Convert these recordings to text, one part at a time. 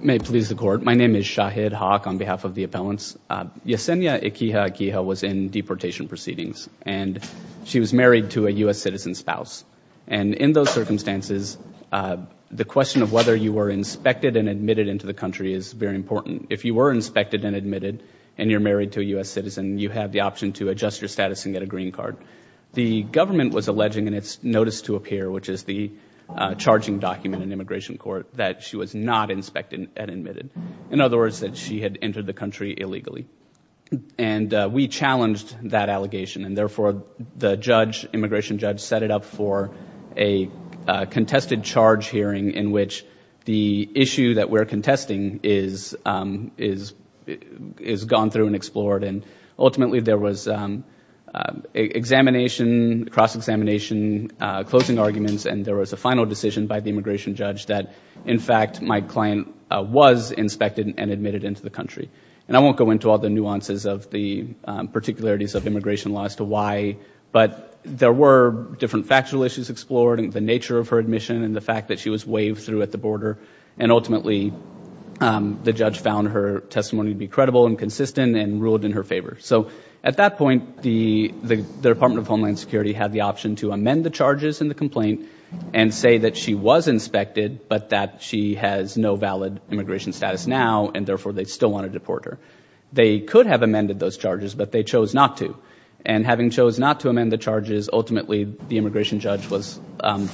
May it please the court. My name is Shahid Haque on behalf of the appellants. Yesenia Equihua-Equihua was in deportation proceedings and she was married to a U.S. citizen spouse. And in those circumstances, the question of whether you were inspected and admitted into the country is very important. If you were inspected and admitted and you're married to a U.S. citizen, you have the option to adjust your status and get a green card. The government was alleging in its notice to appear, which is the charging document in immigration court, that she was not inspected and admitted. In other words, that she had entered the country illegally. And we challenged that allegation and therefore the judge, immigration judge, set it up for a contested charge hearing in which the issue that we're contesting is gone through and explored. And ultimately there was examination, cross-examination, closing arguments, and there was a final decision by the immigration judge that, in fact, my client was inspected and admitted into the country. And I won't go into all the nuances of the particularities of immigration law as to why, but there were different factual issues explored in the nature of her admission and the fact that she was waved through at the border. And ultimately the judge found her testimony to be credible and consistent and ruled in her favor. So at that point, the Department of Homeland Security had the option to amend the charges in the complaint and say that she was inspected but that she has no valid immigration status now and therefore they still wanted to deport her. They could have amended those charges, but they chose not to. And having chose not to amend the charges, ultimately the immigration judge was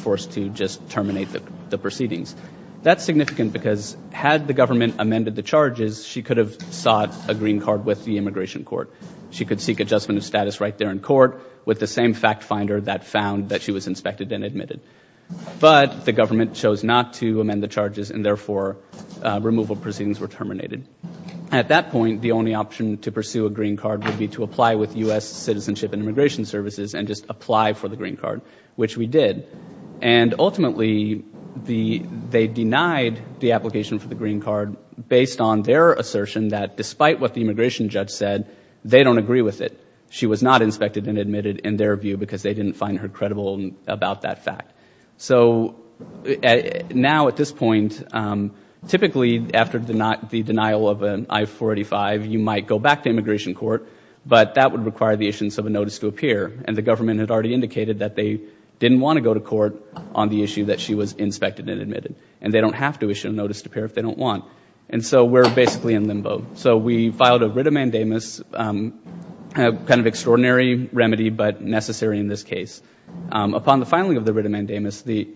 forced to just terminate the proceedings. That's significant because had the government amended the charges, she could have sought a green card with the immigration court. She could seek adjustment of status right there in court with the same fact finder that found that she was inspected and admitted. But the government chose not to amend the charges and therefore removal proceedings were terminated. At that point, the only option to pursue a green card would be to apply with U.S. Citizenship and Immigration Services and just apply for the green card, which we did. And ultimately they denied the application for the green card based on their assertion that despite what the immigration judge said, they don't agree with it. She was not inspected and admitted in their view because they didn't find her credible about that fact. So now at this point, typically after the denial of an I-485, you might go back to immigration court, but that would require the issuance of a notice to appear. And the government had already indicated that they didn't want to go to court on the issue that she was inspected and admitted. And they don't have to issue a notice to appear if they don't want. And so we're basically in limbo. So we filed a writ of mandamus, kind of extraordinary remedy but necessary in this case. Upon the filing of the writ of mandamus, the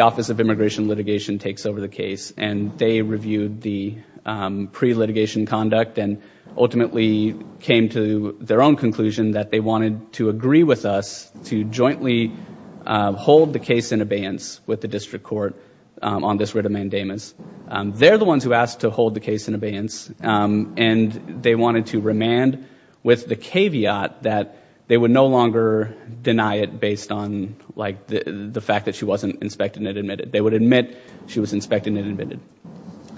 Office of Immigration and Litigation takes over the case and they reviewed the pre-litigation conduct and ultimately came to their own conclusion that they wanted to agree with us to jointly hold the case in abeyance with the district court on this writ of mandamus. They're the ones who asked to hold the case in abeyance, and they wanted to remand with the caveat that they would no longer deny it based on the fact that she wasn't inspected and admitted. They would admit she was inspected and admitted.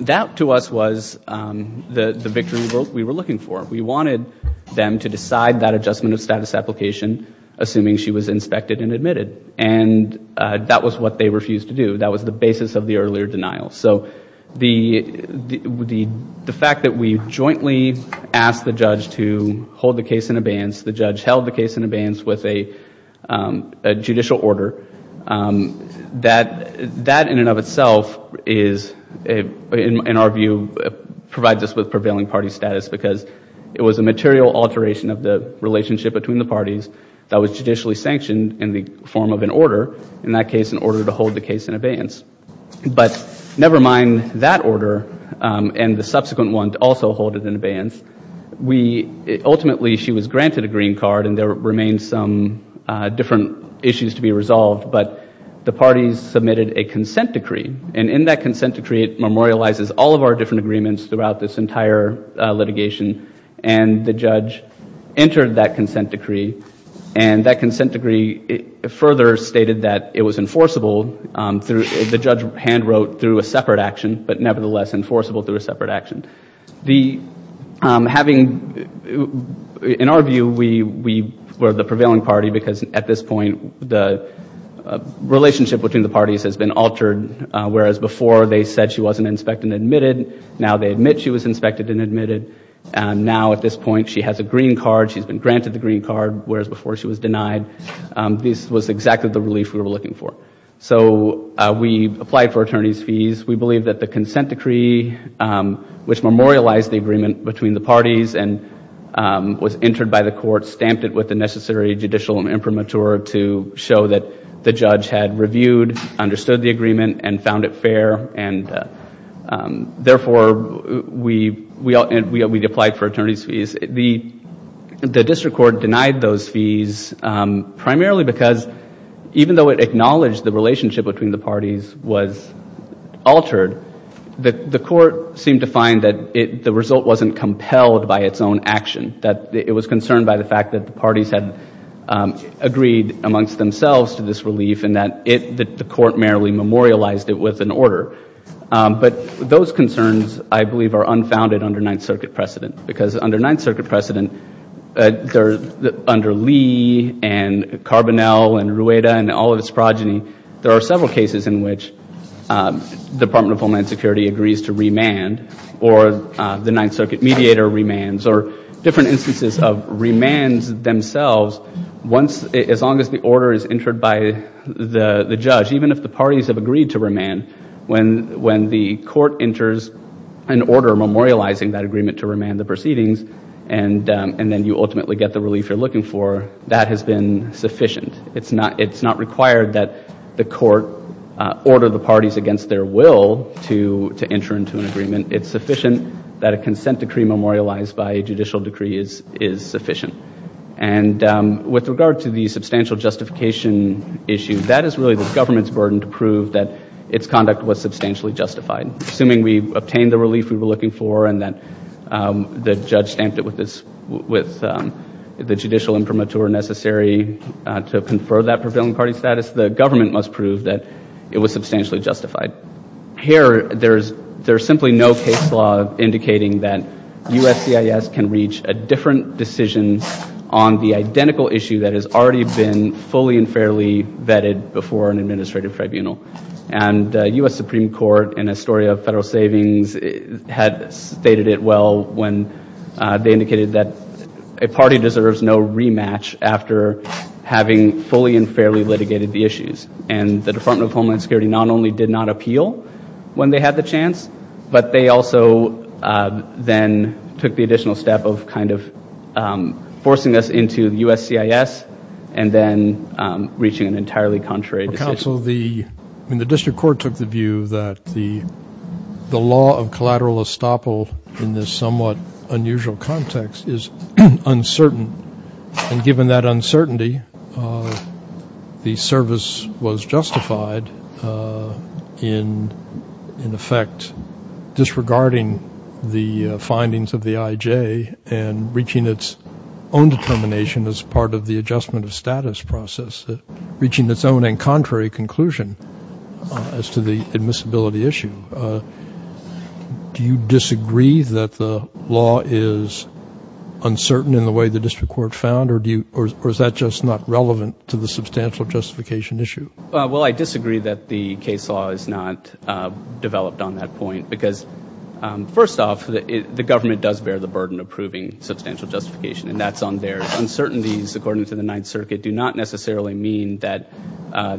That to us was the victory we were looking for. We wanted them to decide that adjustment of status application assuming she was inspected and admitted. And that was what they refused to do. That was the basis of the earlier denial. So the fact that we jointly asked the judge to hold the case in abeyance, the judge held the case in abeyance with a judicial order, that in and of itself is, in our view, provides us with prevailing party status because it was a material alteration of the relationship between the parties that was judicially sanctioned in the form of an order, in that case an order to hold the case in abeyance. But never mind that order and the subsequent one to also hold it in abeyance, ultimately she was granted a green card and there remained some different issues to be resolved. But the parties submitted a consent decree, and in that consent decree it memorializes all of our different agreements throughout this entire litigation. And the judge entered that consent decree, and that consent decree further stated that it was enforceable. The judge hand-wrote through a separate action, but nevertheless enforceable through a separate action. In our view, we were the prevailing party because at this point the relationship between the parties has been altered, whereas before they said she wasn't inspected and admitted, now they admit she was inspected and admitted, and now at this point she has a green card, she's been granted the green card, whereas before she was denied. This was exactly the relief we were looking for. So we applied for attorney's fees. We believe that the consent decree, which memorialized the agreement between the parties and was entered by the court, stamped it with the necessary judicial imprimatur to show that the judge had reviewed, understood the agreement, and found it fair, and therefore we applied for attorney's fees. The district court denied those fees primarily because, even though it acknowledged the relationship between the parties was altered, the court seemed to find that the result wasn't compelled by its own action, that it was concerned by the fact that the parties had agreed amongst themselves to this relief and that the court merely memorialized it with an order. But those concerns, I believe, are unfounded under Ninth Circuit precedent, because under Ninth Circuit precedent, under Lee and Carbonell and Rueda and all of its progeny, there are several cases in which the Department of Homeland Security agrees to remand or the Ninth Circuit mediator remands or different instances of remands themselves as long as the order is entered by the judge, even if the parties have agreed to remand. When the court enters an order memorializing that agreement to remand the proceedings and then you ultimately get the relief you're looking for, that has been sufficient. It's not required that the court order the parties against their will to enter into an agreement. It's sufficient that a consent decree memorialized by a judicial decree is sufficient. And with regard to the substantial justification issue, that is really the government's burden to prove that its conduct was substantially justified. Assuming we obtained the relief we were looking for and that the judge stamped it with the judicial imprimatur necessary to confer that prevailing party status, the government must prove that it was substantially justified. Here, there is simply no case law indicating that USCIS can reach a different decision on the identical issue that has already been fully and fairly vetted before an administrative tribunal. And the U.S. Supreme Court in a story of federal savings had stated it well when they indicated that a party deserves no rematch after having fully and fairly litigated the issues. And the Department of Homeland Security not only did not appeal when they had the chance, but they also then took the additional step of kind of forcing us into USCIS and then reaching an entirely contrary decision. Counsel, the district court took the view that the law of collateral estoppel in this somewhat unusual context is uncertain. And given that uncertainty, the service was justified in effect disregarding the findings of the IJ and reaching its own determination as part of the adjustment of status process, reaching its own and contrary conclusion as to the admissibility issue. Do you disagree that the law is uncertain in the way the district court found, or is that just not relevant to the substantial justification issue? Well, I disagree that the case law is not developed on that point because, first off, the government does bear the burden of proving substantial justification, and that's on their uncertainties, according to the Ninth Circuit, do not necessarily mean that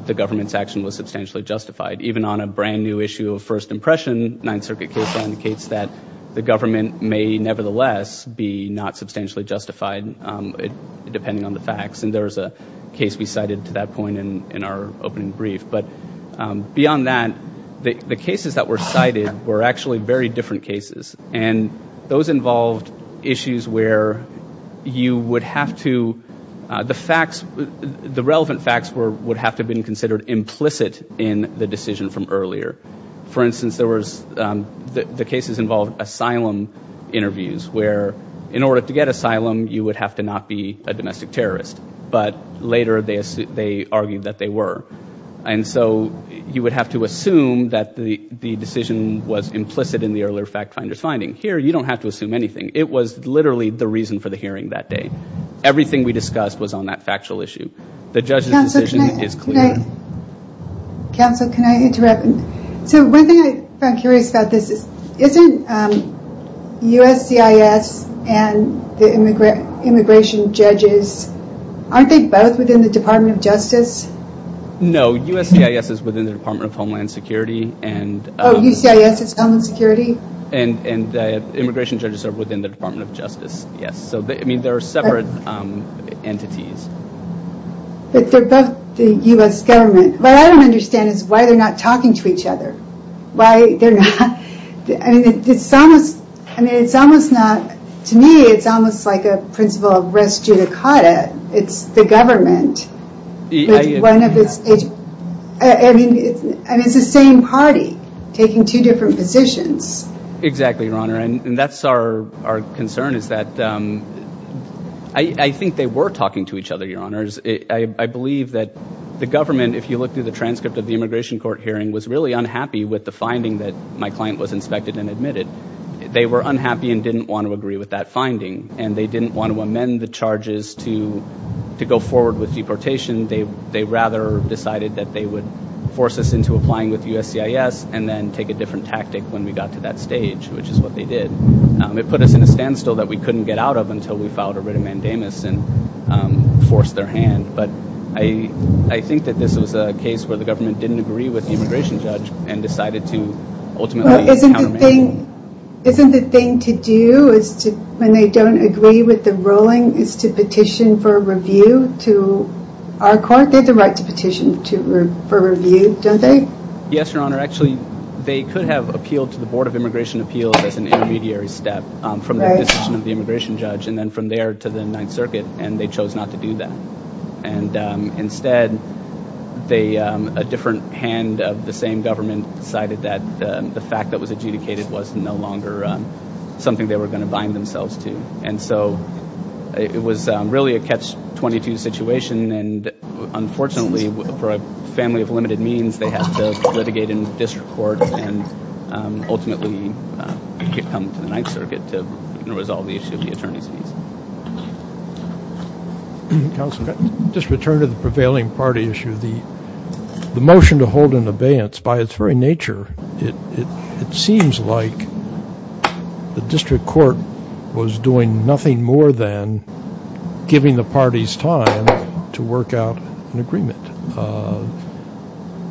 the government's action was substantially justified. Even on a brand-new issue of first impression, Ninth Circuit case law indicates that the government may nevertheless be not substantially justified, depending on the facts. And there is a case we cited to that point in our opening brief. But beyond that, the cases that were cited were actually very different cases, and those involved issues where you would have to, the facts, the relevant facts would have to have been considered implicit in the decision from earlier. For instance, the cases involved asylum interviews, where in order to get asylum you would have to not be a domestic terrorist. But later they argued that they were. And so you would have to assume that the decision was implicit in the earlier fact finder's finding. Here you don't have to assume anything. It was literally the reason for the hearing that day. Everything we discussed was on that factual issue. The judge's decision is clear. Counsel, can I interrupt? So one thing I found curious about this is, isn't USCIS and the immigration judges, aren't they both within the Department of Justice? No, USCIS is within the Department of Homeland Security. Oh, USCIS is Homeland Security? And immigration judges are within the Department of Justice, yes. So, I mean, they're separate entities. But they're both the U.S. government. What I don't understand is why they're not talking to each other. Why they're not, I mean, it's almost, I mean, it's almost not, to me it's almost like a principle of res judicata. It's the government. I mean, it's the same party taking two different positions. Exactly, Your Honor. And that's our concern is that I think they were talking to each other, Your Honors. I believe that the government, if you look through the transcript of the immigration court hearing, was really unhappy with the finding that my client was inspected and admitted. They were unhappy and didn't want to agree with that finding. And they didn't want to amend the charges to go forward with deportation. They rather decided that they would force us into applying with USCIS and then take a different tactic when we got to that stage, which is what they did. It put us in a standstill that we couldn't get out of until we filed a writ of mandamus and forced their hand. But I think that this was a case where the government didn't agree with the immigration judge and decided to ultimately countermand. Isn't the thing to do when they don't agree with the ruling is to petition for review to our court? They have the right to petition for review, don't they? Yes, Your Honor. Actually, they could have appealed to the Board of Immigration Appeals as an intermediary step from the decision of the immigration judge and then from there to the Ninth Circuit, and they chose not to do that. And instead, a different hand of the same government decided that the fact that it was adjudicated was no longer something they were going to bind themselves to. And so it was really a catch-22 situation. And unfortunately, for a family of limited means, they had to litigate in district court and ultimately come to the Ninth Circuit to resolve the issue of the attorney's fees. Counsel, just to return to the prevailing party issue, the motion to hold an abeyance, by its very nature, it seems like the district court was doing nothing more than giving the parties time to work out an agreement.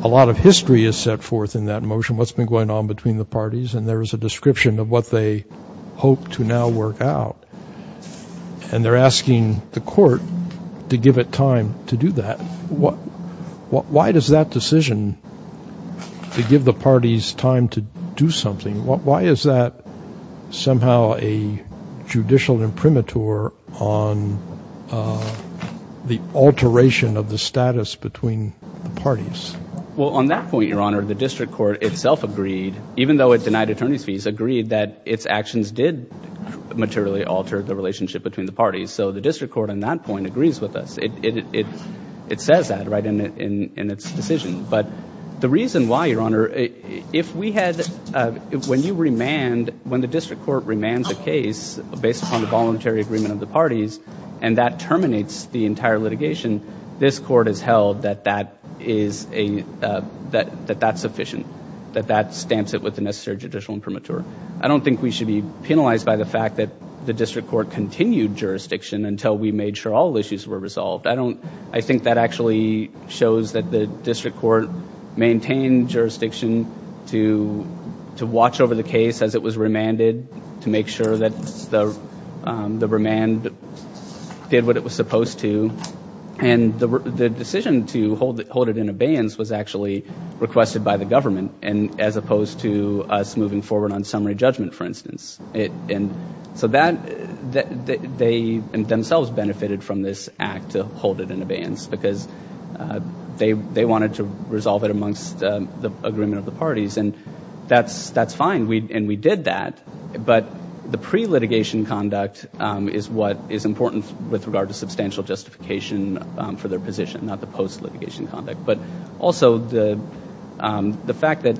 A lot of history is set forth in that motion, what's been going on between the parties, and there is a description of what they hope to now work out. And they're asking the court to give it time to do that. Why does that decision to give the parties time to do something, why is that somehow a judicial imprimatur on the alteration of the status between the parties? Well, on that point, Your Honor, the district court itself agreed, even though it denied attorney's fees, agreed that its actions did materially alter the relationship between the parties. So the district court on that point agrees with us. It says that, right, in its decision. But the reason why, Your Honor, if we had, when you remand, when the district court remands a case based upon the voluntary agreement of the parties, and that terminates the entire litigation, this court has held that that is a, that that's sufficient, that that stamps it with the necessary judicial imprimatur. I don't think we should be penalized by the fact that the district court continued jurisdiction until we made sure all issues were resolved. I don't, I think that actually shows that the district court maintained jurisdiction to watch over the case as it was remanded, to make sure that the remand did what it was supposed to. And the decision to hold it in abeyance was actually requested by the government, as opposed to us moving forward on summary judgment, for instance. And so that, they themselves benefited from this act to hold it in abeyance, because they wanted to resolve it amongst the agreement of the parties. And that's fine. And we did that. But the pre-litigation conduct is what is important with regard to substantial justification for their position, not the post-litigation conduct. But also the fact that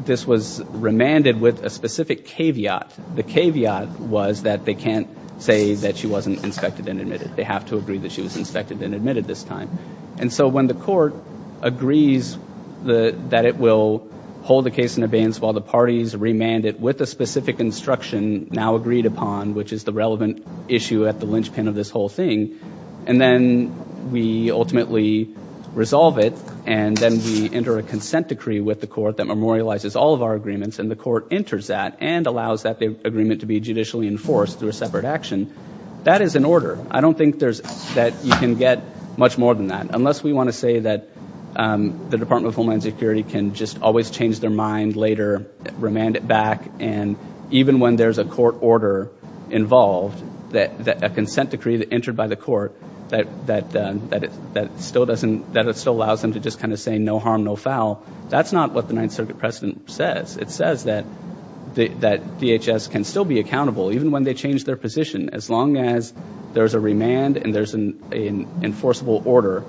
this was remanded with a specific caveat. The caveat was that they can't say that she wasn't inspected and admitted. They have to agree that she was inspected and admitted this time. And so when the court agrees that it will hold the case in abeyance while the parties remand it with a specific instruction now agreed upon, which is the relevant issue at the linchpin of this whole thing, and then we ultimately resolve it, and then we enter a consent decree with the court that memorializes all of our agreements, and the court enters that and allows that agreement to be judicially enforced through a separate action, that is an order. I don't think that you can get much more than that, unless we want to say that the Department of Homeland Security can just always change their mind later, remand it back. And even when there's a court order involved, a consent decree that entered by the court, that still allows them to just kind of say no harm, no foul, that's not what the Ninth Circuit precedent says. It says that DHS can still be accountable, even when they change their position. As long as there's a remand and there's an enforceable order,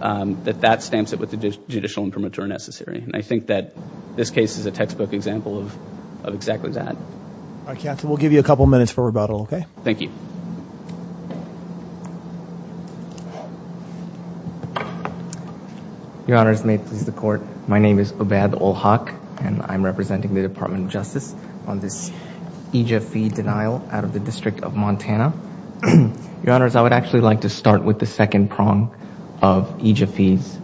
that that stamps it with the judicial and premature necessary. And I think that this case is a textbook example of exactly that. All right, Captain, we'll give you a couple of minutes for rebuttal, okay? Thank you. Your Honors, may it please the court, my name is Obad Olhak, and I'm representing the Department of Justice on this EJF fee denial out of the District of Montana. Your Honors, I would actually like to start with the second prong of EJF fees,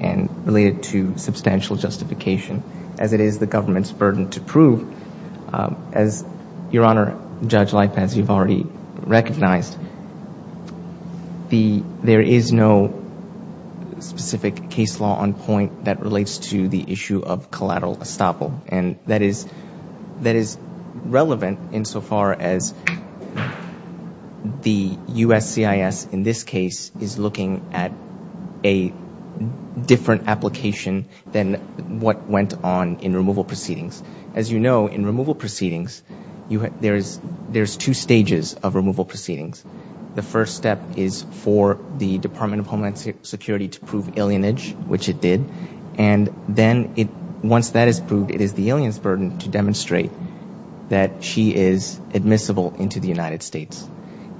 and relate it to substantial justification, as it is the government's burden to prove. As Your Honor, Judge Lipaz, you've already recognized, there is no specific case law on point that relates to the issue of collateral estoppel. And that is relevant insofar as the USCIS, in this case, is looking at a different application than what went on in removal proceedings. As you know, in removal proceedings, there's two stages of removal proceedings. The first step is for the Department of Homeland Security to prove alienage, which it did. And then, once that is proved, it is the alien's burden to demonstrate that she is admissible into the United States.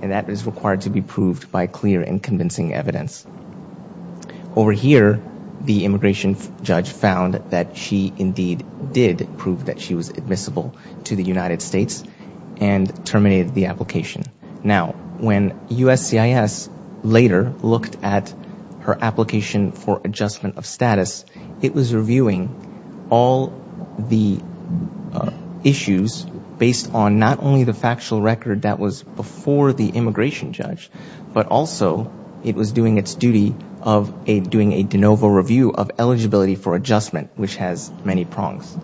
And that is required to be proved by clear and convincing evidence. Over here, the immigration judge found that she indeed did prove that she was admissible to the United States, and terminated the application. Now, when USCIS later looked at her application for adjustment of status, it was reviewing all the issues based on not only the factual record that was before the immigration judge, but also it was doing its duty of doing a de novo review of eligibility for adjustment, which has many prongs.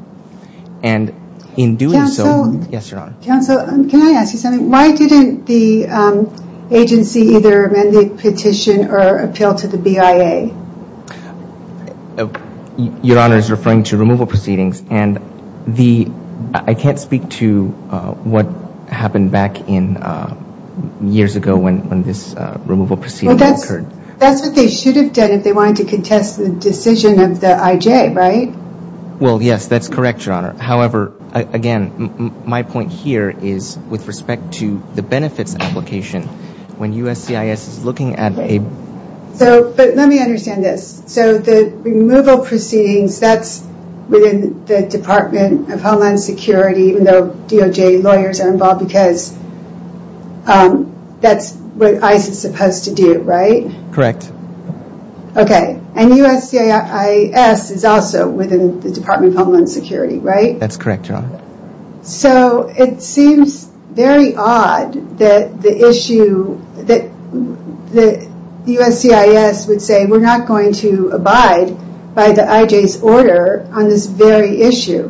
And in doing so... Counsel. Yes, Your Honor. Counsel, can I ask you something? Why didn't the agency either amend the petition or appeal to the BIA? Your Honor is referring to removal proceedings. And I can't speak to what happened back in years ago when this removal proceeding occurred. That's what they should have done if they wanted to contest the decision of the IJ, right? Well, yes, that's correct, Your Honor. However, again, my point here is with respect to the benefits application, when USCIS is looking at a... But let me understand this. So the removal proceedings, that's within the Department of Homeland Security, even though DOJ lawyers are involved because that's what ICE is supposed to do, right? Correct. Okay. And USCIS is also within the Department of Homeland Security, right? That's correct, Your Honor. So it seems very odd that USCIS would say we're not going to abide by the IJ's order on this very issue.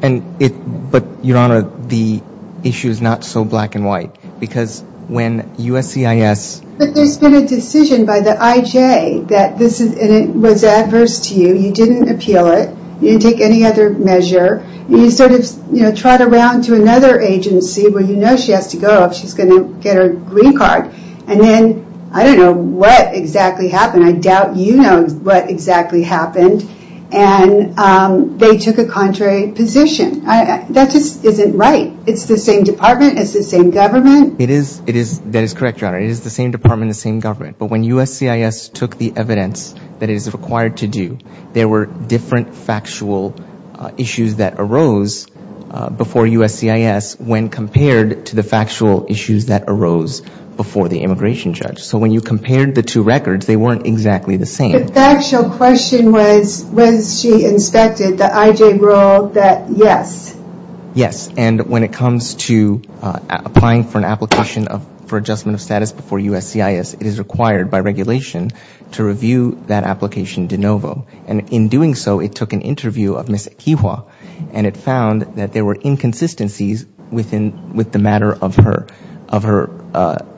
But, Your Honor, the issue is not so black and white. Because when USCIS... But there's been a decision by the IJ that this was adverse to you. You didn't appeal it. You didn't take any other measure. You sort of trot around to another agency where you know she has to go if she's going to get her green card. And then, I don't know what exactly happened. I doubt you know what exactly happened. And they took a contrary position. That just isn't right. It's the same department. It's the same government. It is. That is correct, Your Honor. It is the same department, the same government. But when USCIS took the evidence that it is required to do, there were different factual issues that arose before USCIS when compared to the factual issues that arose before the immigration judge. So when you compared the two records, they weren't exactly the same. The factual question was, was she inspected? The IJ ruled that yes. Yes. And when it comes to applying for an application for adjustment of status before USCIS, it is required by regulation to review that application de novo. And in doing so, it took an interview of Ms. Equihua, and it found that there were inconsistencies with the matter of her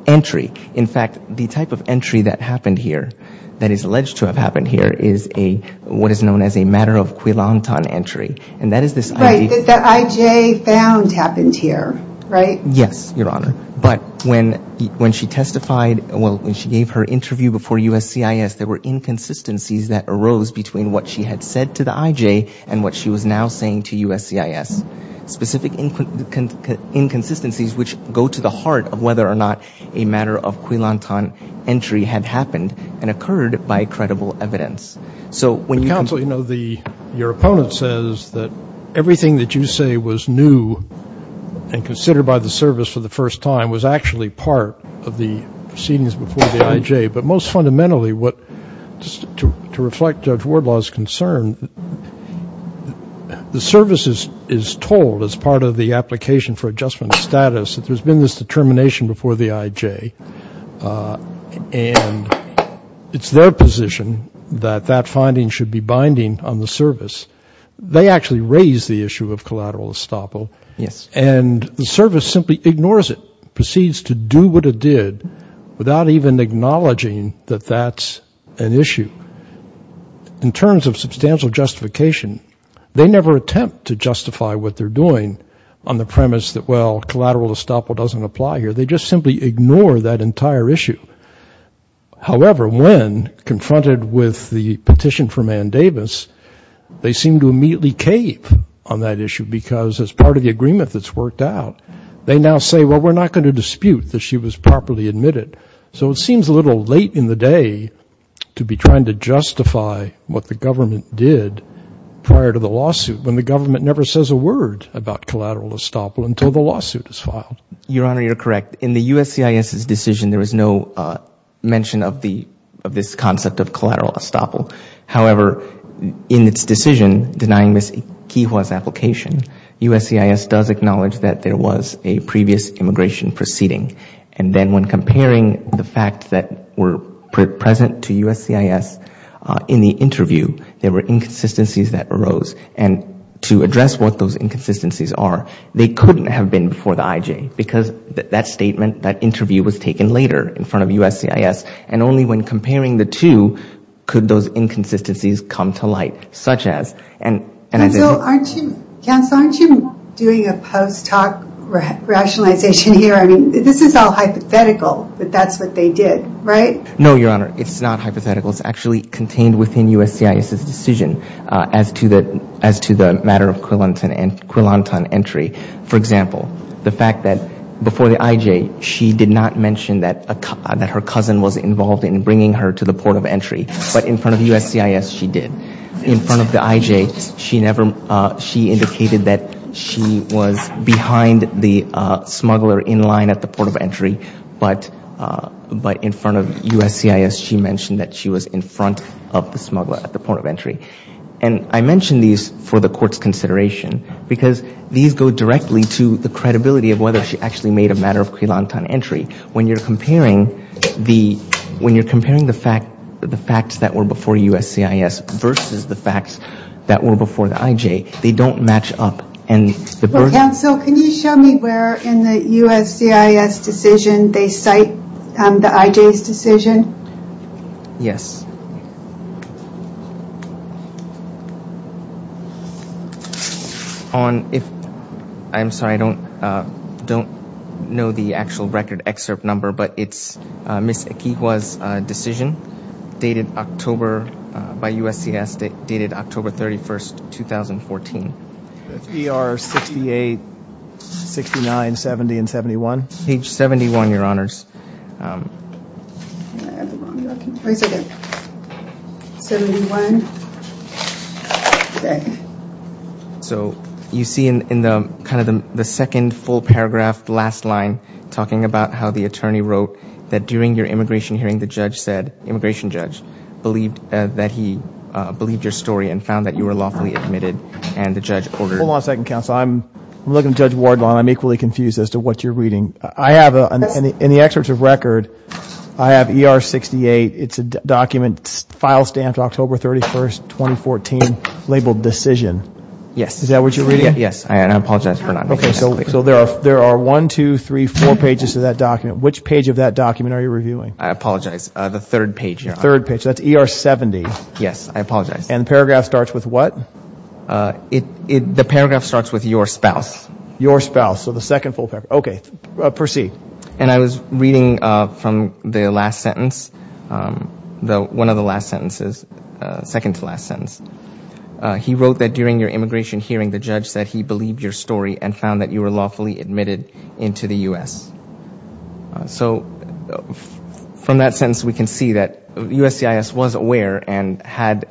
entry. In fact, the type of entry that happened here, that is alleged to have happened here, is what is known as a matter of quillanton entry. And that is this IJ. Right, that the IJ found happened here, right? Yes, Your Honor. But when she testified, well, when she gave her interview before USCIS, there were inconsistencies that arose between what she had said to the IJ and what she was now saying to USCIS, specific inconsistencies which go to the heart of whether or not a matter of quillanton entry had happened and occurred by credible evidence. Counsel, you know, your opponent says that everything that you say was new and considered by the service for the first time was actually part of the proceedings before the IJ. But most fundamentally, to reflect Judge Wardlaw's concern, the service is told as part of the application for adjustment of status that there's been this determination before the IJ. And it's their position that that finding should be binding on the service. They actually raise the issue of collateral estoppel. Yes. And the service simply ignores it, proceeds to do what it did without even acknowledging that that's an issue. In terms of substantial justification, they never attempt to justify what they're doing on the premise that, well, collateral estoppel doesn't apply here. They just simply ignore that entire issue. However, when confronted with the petition from Ann Davis, they seem to immediately cave on that issue because as part of the agreement that's worked out, they now say, well, we're not going to dispute that she was properly admitted. So it seems a little late in the day to be trying to justify what the government did prior to the lawsuit when the government never says a word about collateral estoppel until the lawsuit is filed. Your Honor, you're correct. In the USCIS's decision, there was no mention of this concept of collateral estoppel. However, in its decision denying Ms. Ikiwa's application, USCIS does acknowledge that there was a previous immigration proceeding. And then when comparing the fact that were present to USCIS in the interview, there were inconsistencies that arose. And to address what those inconsistencies are, they couldn't have been before the IJ because that statement, that interview was taken later in front of USCIS. And only when comparing the two could those inconsistencies come to light. Counsel, aren't you doing a post-talk rationalization here? I mean, this is all hypothetical, but that's what they did, right? No, Your Honor. It's not hypothetical. It's actually contained within USCIS's decision as to the matter of Quilantan entry. For example, the fact that before the IJ, she did not mention that her cousin was involved in bringing her to the port of entry. But in front of USCIS, she did. In front of the IJ, she indicated that she was behind the smuggler in line at the port of entry. But in front of USCIS, she mentioned that she was in front of the smuggler at the port of entry. And I mention these for the Court's consideration because these go directly to the credibility of whether she actually made a matter of Quilantan entry. When you're comparing the facts that were before USCIS versus the facts that were before the IJ, they don't match up. Counsel, can you show me where in the USCIS decision they cite the IJ's decision? Yes. I'm sorry, I don't know the actual record excerpt number, but it's Ms. Ikiwa's decision by USCIS dated October 31, 2014. That's ER 68, 69, 70, and 71? I have the wrong document. Wait a second. 71. Okay. So you see in kind of the second full paragraph, last line, talking about how the attorney wrote that during your immigration hearing, the judge said, immigration judge, believed that he believed your story and found that you were lawfully admitted, and the judge ordered— Hold on a second, counsel. I'm looking at Judge Wardlaw, and I'm equally confused as to what you're reading. I have, in the excerpt of record, I have ER 68. It's a document, file stamped October 31, 2014, labeled decision. Yes. Is that what you're reading? Yes, and I apologize for not— Okay, so there are one, two, three, four pages of that document. Which page of that document are you reviewing? I apologize. The third page. The third page. That's ER 70. Yes, I apologize. And the paragraph starts with what? The paragraph starts with your spouse. Your spouse. So the second full paragraph. Okay, proceed. And I was reading from the last sentence, one of the last sentences, second-to-last sentence. He wrote that during your immigration hearing, the judge said he believed your story and found that you were lawfully admitted into the U.S. So from that sentence, we can see that USCIS was aware and had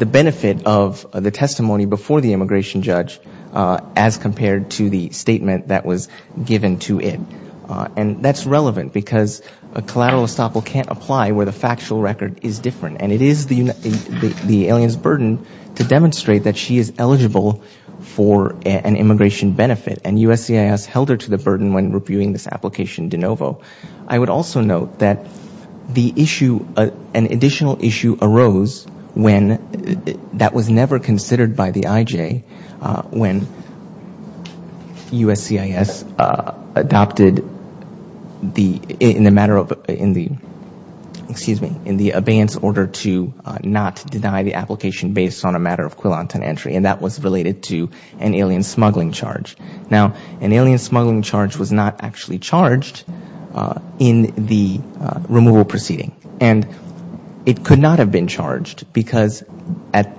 the benefit of the testimony before the immigration judge as compared to the statement that was given to it. And that's relevant because a collateral estoppel can't apply where the factual record is different. And it is the alien's burden to demonstrate that she is eligible for an immigration benefit. And USCIS held her to the burden when reviewing this application de novo. I would also note that the issue, an additional issue arose when that was never considered by the IJ when USCIS adopted in the matter of, in the, excuse me, in the abeyance order to not deny the application based on a matter of quillant and entry. And that was related to an alien smuggling charge. Now, an alien smuggling charge was not actually charged in the removal proceeding. And it could not have been charged because the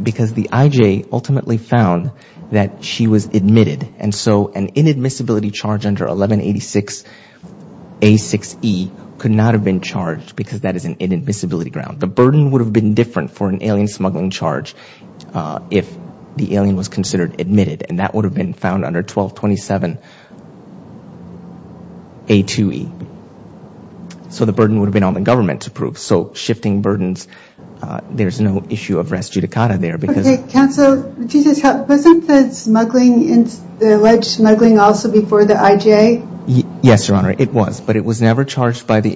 IJ ultimately found that she was admitted. And so an inadmissibility charge under 1186A6E could not have been charged because that is an inadmissibility ground. The burden would have been different for an alien smuggling charge if the alien was considered admitted. And that would have been found under 1227A2E. So the burden would have been on the government to prove. So shifting burdens, there's no issue of res judicata there because Okay, counsel, Jesus, wasn't the alleged smuggling also before the IJ? Yes, Your Honor, it was. But it was never charged by the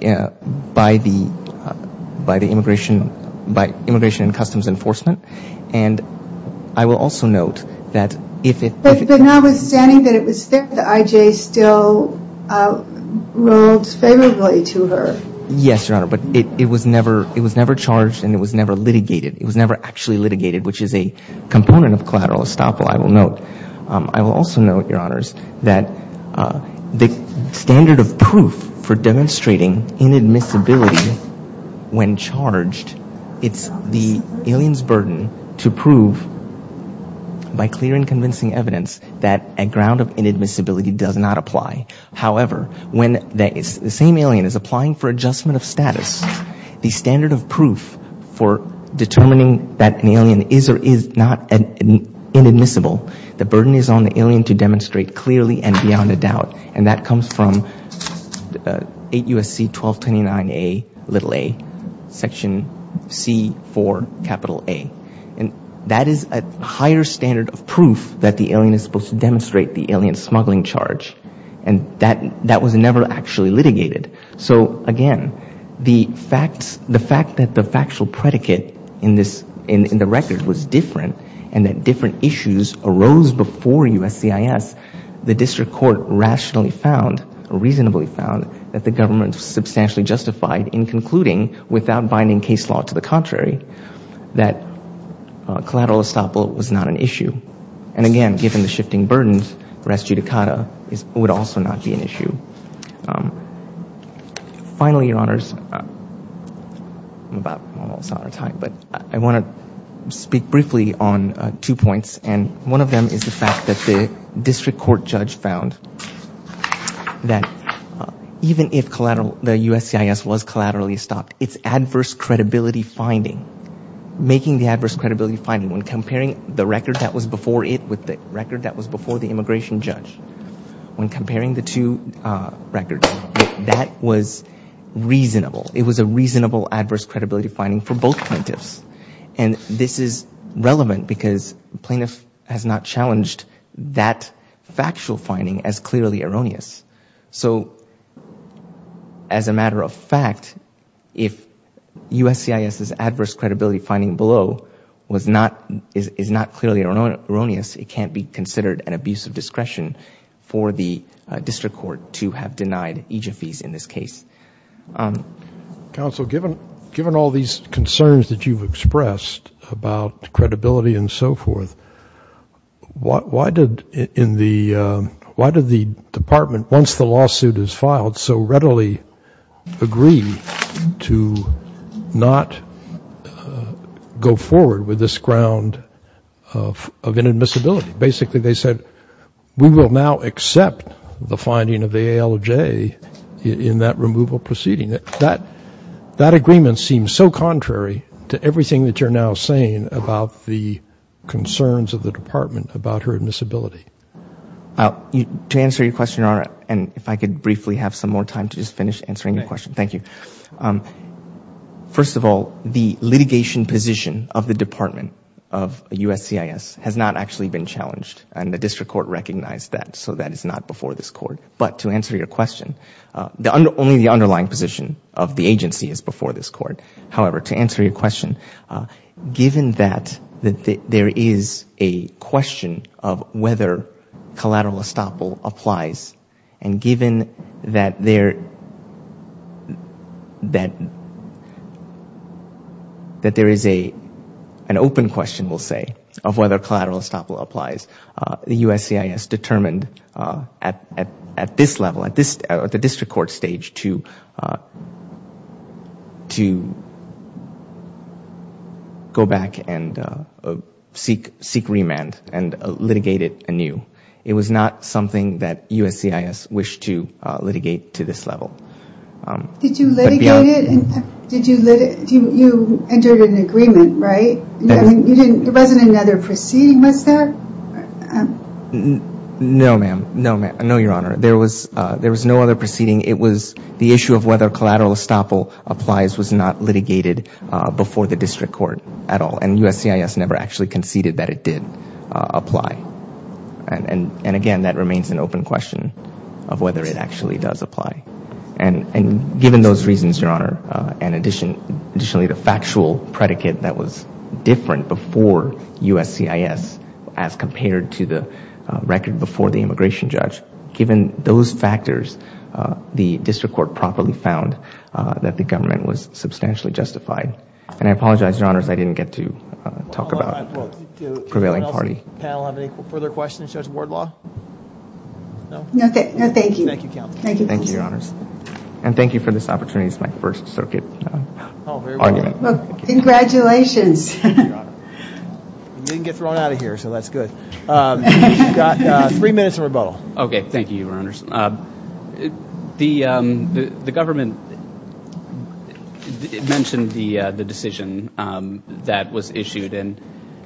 Immigration and Customs Enforcement. And I will also note that if it But notwithstanding that it was there, the IJ still ruled favorably to her. Yes, Your Honor, but it was never charged and it was never litigated. It was never actually litigated, which is a component of collateral estoppel, I will note. I will also note, Your Honors, that the standard of proof for demonstrating inadmissibility when charged, it's the alien's burden to prove by clear and convincing evidence that a ground of inadmissibility does not apply. However, when the same alien is applying for adjustment of status, the standard of proof for determining that an alien is or is not inadmissible, the burden is on the alien to demonstrate clearly and beyond a doubt. And that comes from 8 U.S.C. 1229a, little a, section C4, capital A. And that is a higher standard of proof that the alien is supposed to demonstrate the alien smuggling charge. And that was never actually litigated. So, again, the fact that the factual predicate in the record was different and that different issues arose before USCIS, the district court rationally found, reasonably found, that the government substantially justified in concluding, without binding case law to the contrary, that collateral estoppel was not an issue. And, again, given the shifting burdens, res judicata would also not be an issue. Finally, Your Honors, I'm about almost out of time, but I want to speak briefly on two points. And one of them is the fact that the district court judge found that even if the USCIS was collaterally stopped, its adverse credibility finding, making the adverse credibility finding, when comparing the record that was before it with the record that was before the immigration judge, when comparing the two records, that was reasonable. It was a reasonable adverse credibility finding for both plaintiffs. And this is relevant because the plaintiff has not challenged that factual finding as clearly erroneous. So, as a matter of fact, if USCIS's adverse credibility finding below is not clearly erroneous, it can't be considered an abuse of discretion for the district court to have denied each of these in this case. Counsel, given all these concerns that you've expressed about credibility and so forth, why did the department, once the lawsuit is filed, so readily agree to not go forward with this ground of inadmissibility? Basically, they said, we will now accept the finding of the ALJ in that removal proceeding. That agreement seems so contrary to everything that you're now saying about the concerns of the department about her admissibility. To answer your question, and if I could briefly have some more time to just finish answering your question. Thank you. First of all, the litigation position of the department of USCIS has not actually been challenged, and the district court recognized that, so that is not before this court. But to answer your question, only the underlying position of the agency is before this court. However, to answer your question, given that there is a question of whether collateral estoppel applies, and given that there is an open question, we'll say, of whether collateral estoppel applies, the USCIS determined at this level, at the district court stage, to go back and seek remand and litigate anew. It was not something that USCIS wished to litigate to this level. Did you litigate it? You entered an agreement, right? There wasn't another proceeding, was there? No, ma'am. No, your honor. There was no other proceeding. It was the issue of whether collateral estoppel applies was not litigated before the district court at all, and USCIS never actually conceded that it did apply. And again, that remains an open question of whether it actually does apply. And given those reasons, your honor, and additionally the factual predicate that was different before USCIS as compared to the record before the immigration judge, given those factors, the district court properly found that the government was substantially justified. And I apologize, your honors, I didn't get to talk about the prevailing party. Does the panel have any further questions of Judge Wardlaw? No? No, thank you. Thank you, counsel. Thank you, your honors. And thank you for this opportunity. It's my first circuit argument. Oh, very well. Congratulations. Thank you, your honor. I didn't get thrown out of here, so that's good. You've got three minutes of rebuttal. Okay. Thank you, your honors. The government mentioned the decision that was issued, and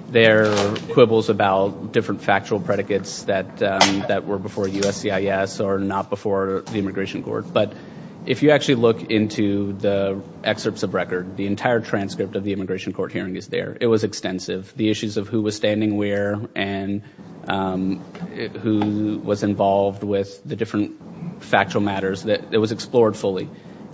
there are quibbles about different factual predicates that were before USCIS or not before the immigration court. But if you actually look into the excerpts of record, the entire transcript of the immigration court hearing is there. It was extensive. The issues of who was standing where and who was involved with the different factual matters, it was explored fully.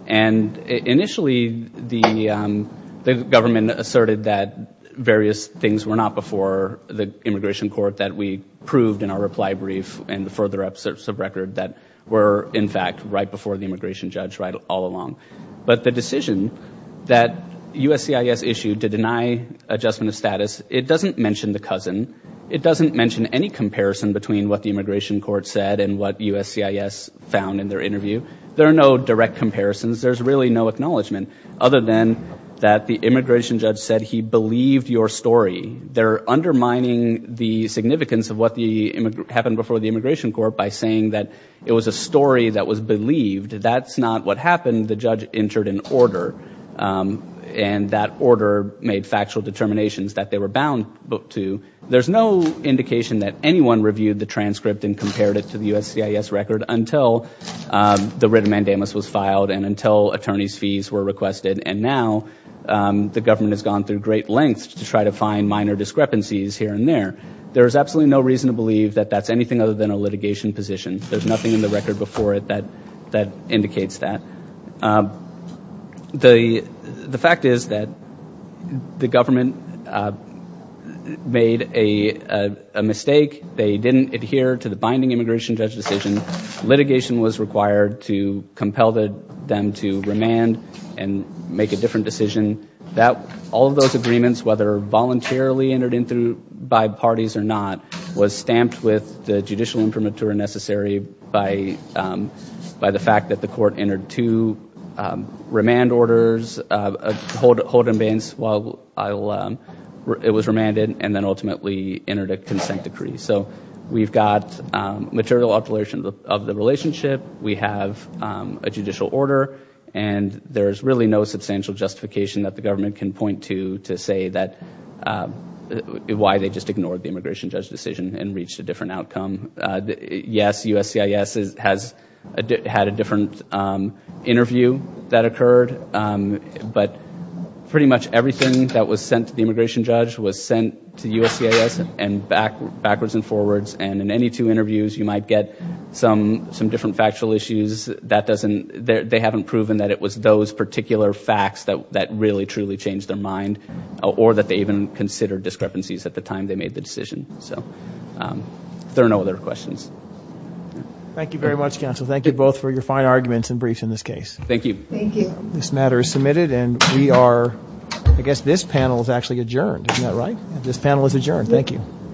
And initially the government asserted that various things were not before the immigration court that we proved in our reply brief and the further excerpts of record that were, in fact, right before the immigration judge all along. But the decision that USCIS issued to deny adjustment of status, it doesn't mention the cousin. It doesn't mention any comparison between what the immigration court said and what USCIS found in their interview. There are no direct comparisons. There's really no acknowledgment other than that the immigration judge said he believed your story. They're undermining the significance of what happened before the immigration court by saying that it was a story that was believed. That's not what happened. The judge entered an order, and that order made factual determinations that they were bound to. There's no indication that anyone reviewed the transcript and compared it to the USCIS record until the writ mandamus was filed and until attorney's fees were requested. And now the government has gone through great lengths to try to find minor discrepancies here and there. There is absolutely no reason to believe that that's anything other than a litigation position. There's nothing in the record before it that indicates that. The fact is that the government made a mistake. They didn't adhere to the binding immigration judge decision. Litigation was required to compel them to remand and make a different decision. All of those agreements, whether voluntarily entered in by parties or not, was stamped with the judicial informatura necessary by the fact that the court entered two remand orders, hold and bains while it was remanded, and then ultimately entered a consent decree. So we've got material alterations of the relationship. We have a judicial order. And there's really no substantial justification that the government can point to to say why they just ignored the immigration judge decision and reached a different outcome. Yes, USCIS had a different interview that occurred. But pretty much everything that was sent to the immigration judge was sent to USCIS and backwards and forwards. And in any two interviews, you might get some different factual issues. They haven't proven that it was those particular facts that really, truly changed their mind, or that they even considered discrepancies at the time they made the decision. So there are no other questions. Thank you very much, counsel. Thank you both for your fine arguments and briefs in this case. Thank you. Thank you. This matter is submitted, and we are ‑‑ I guess this panel is actually adjourned. Isn't that right? This panel is adjourned. Thank you.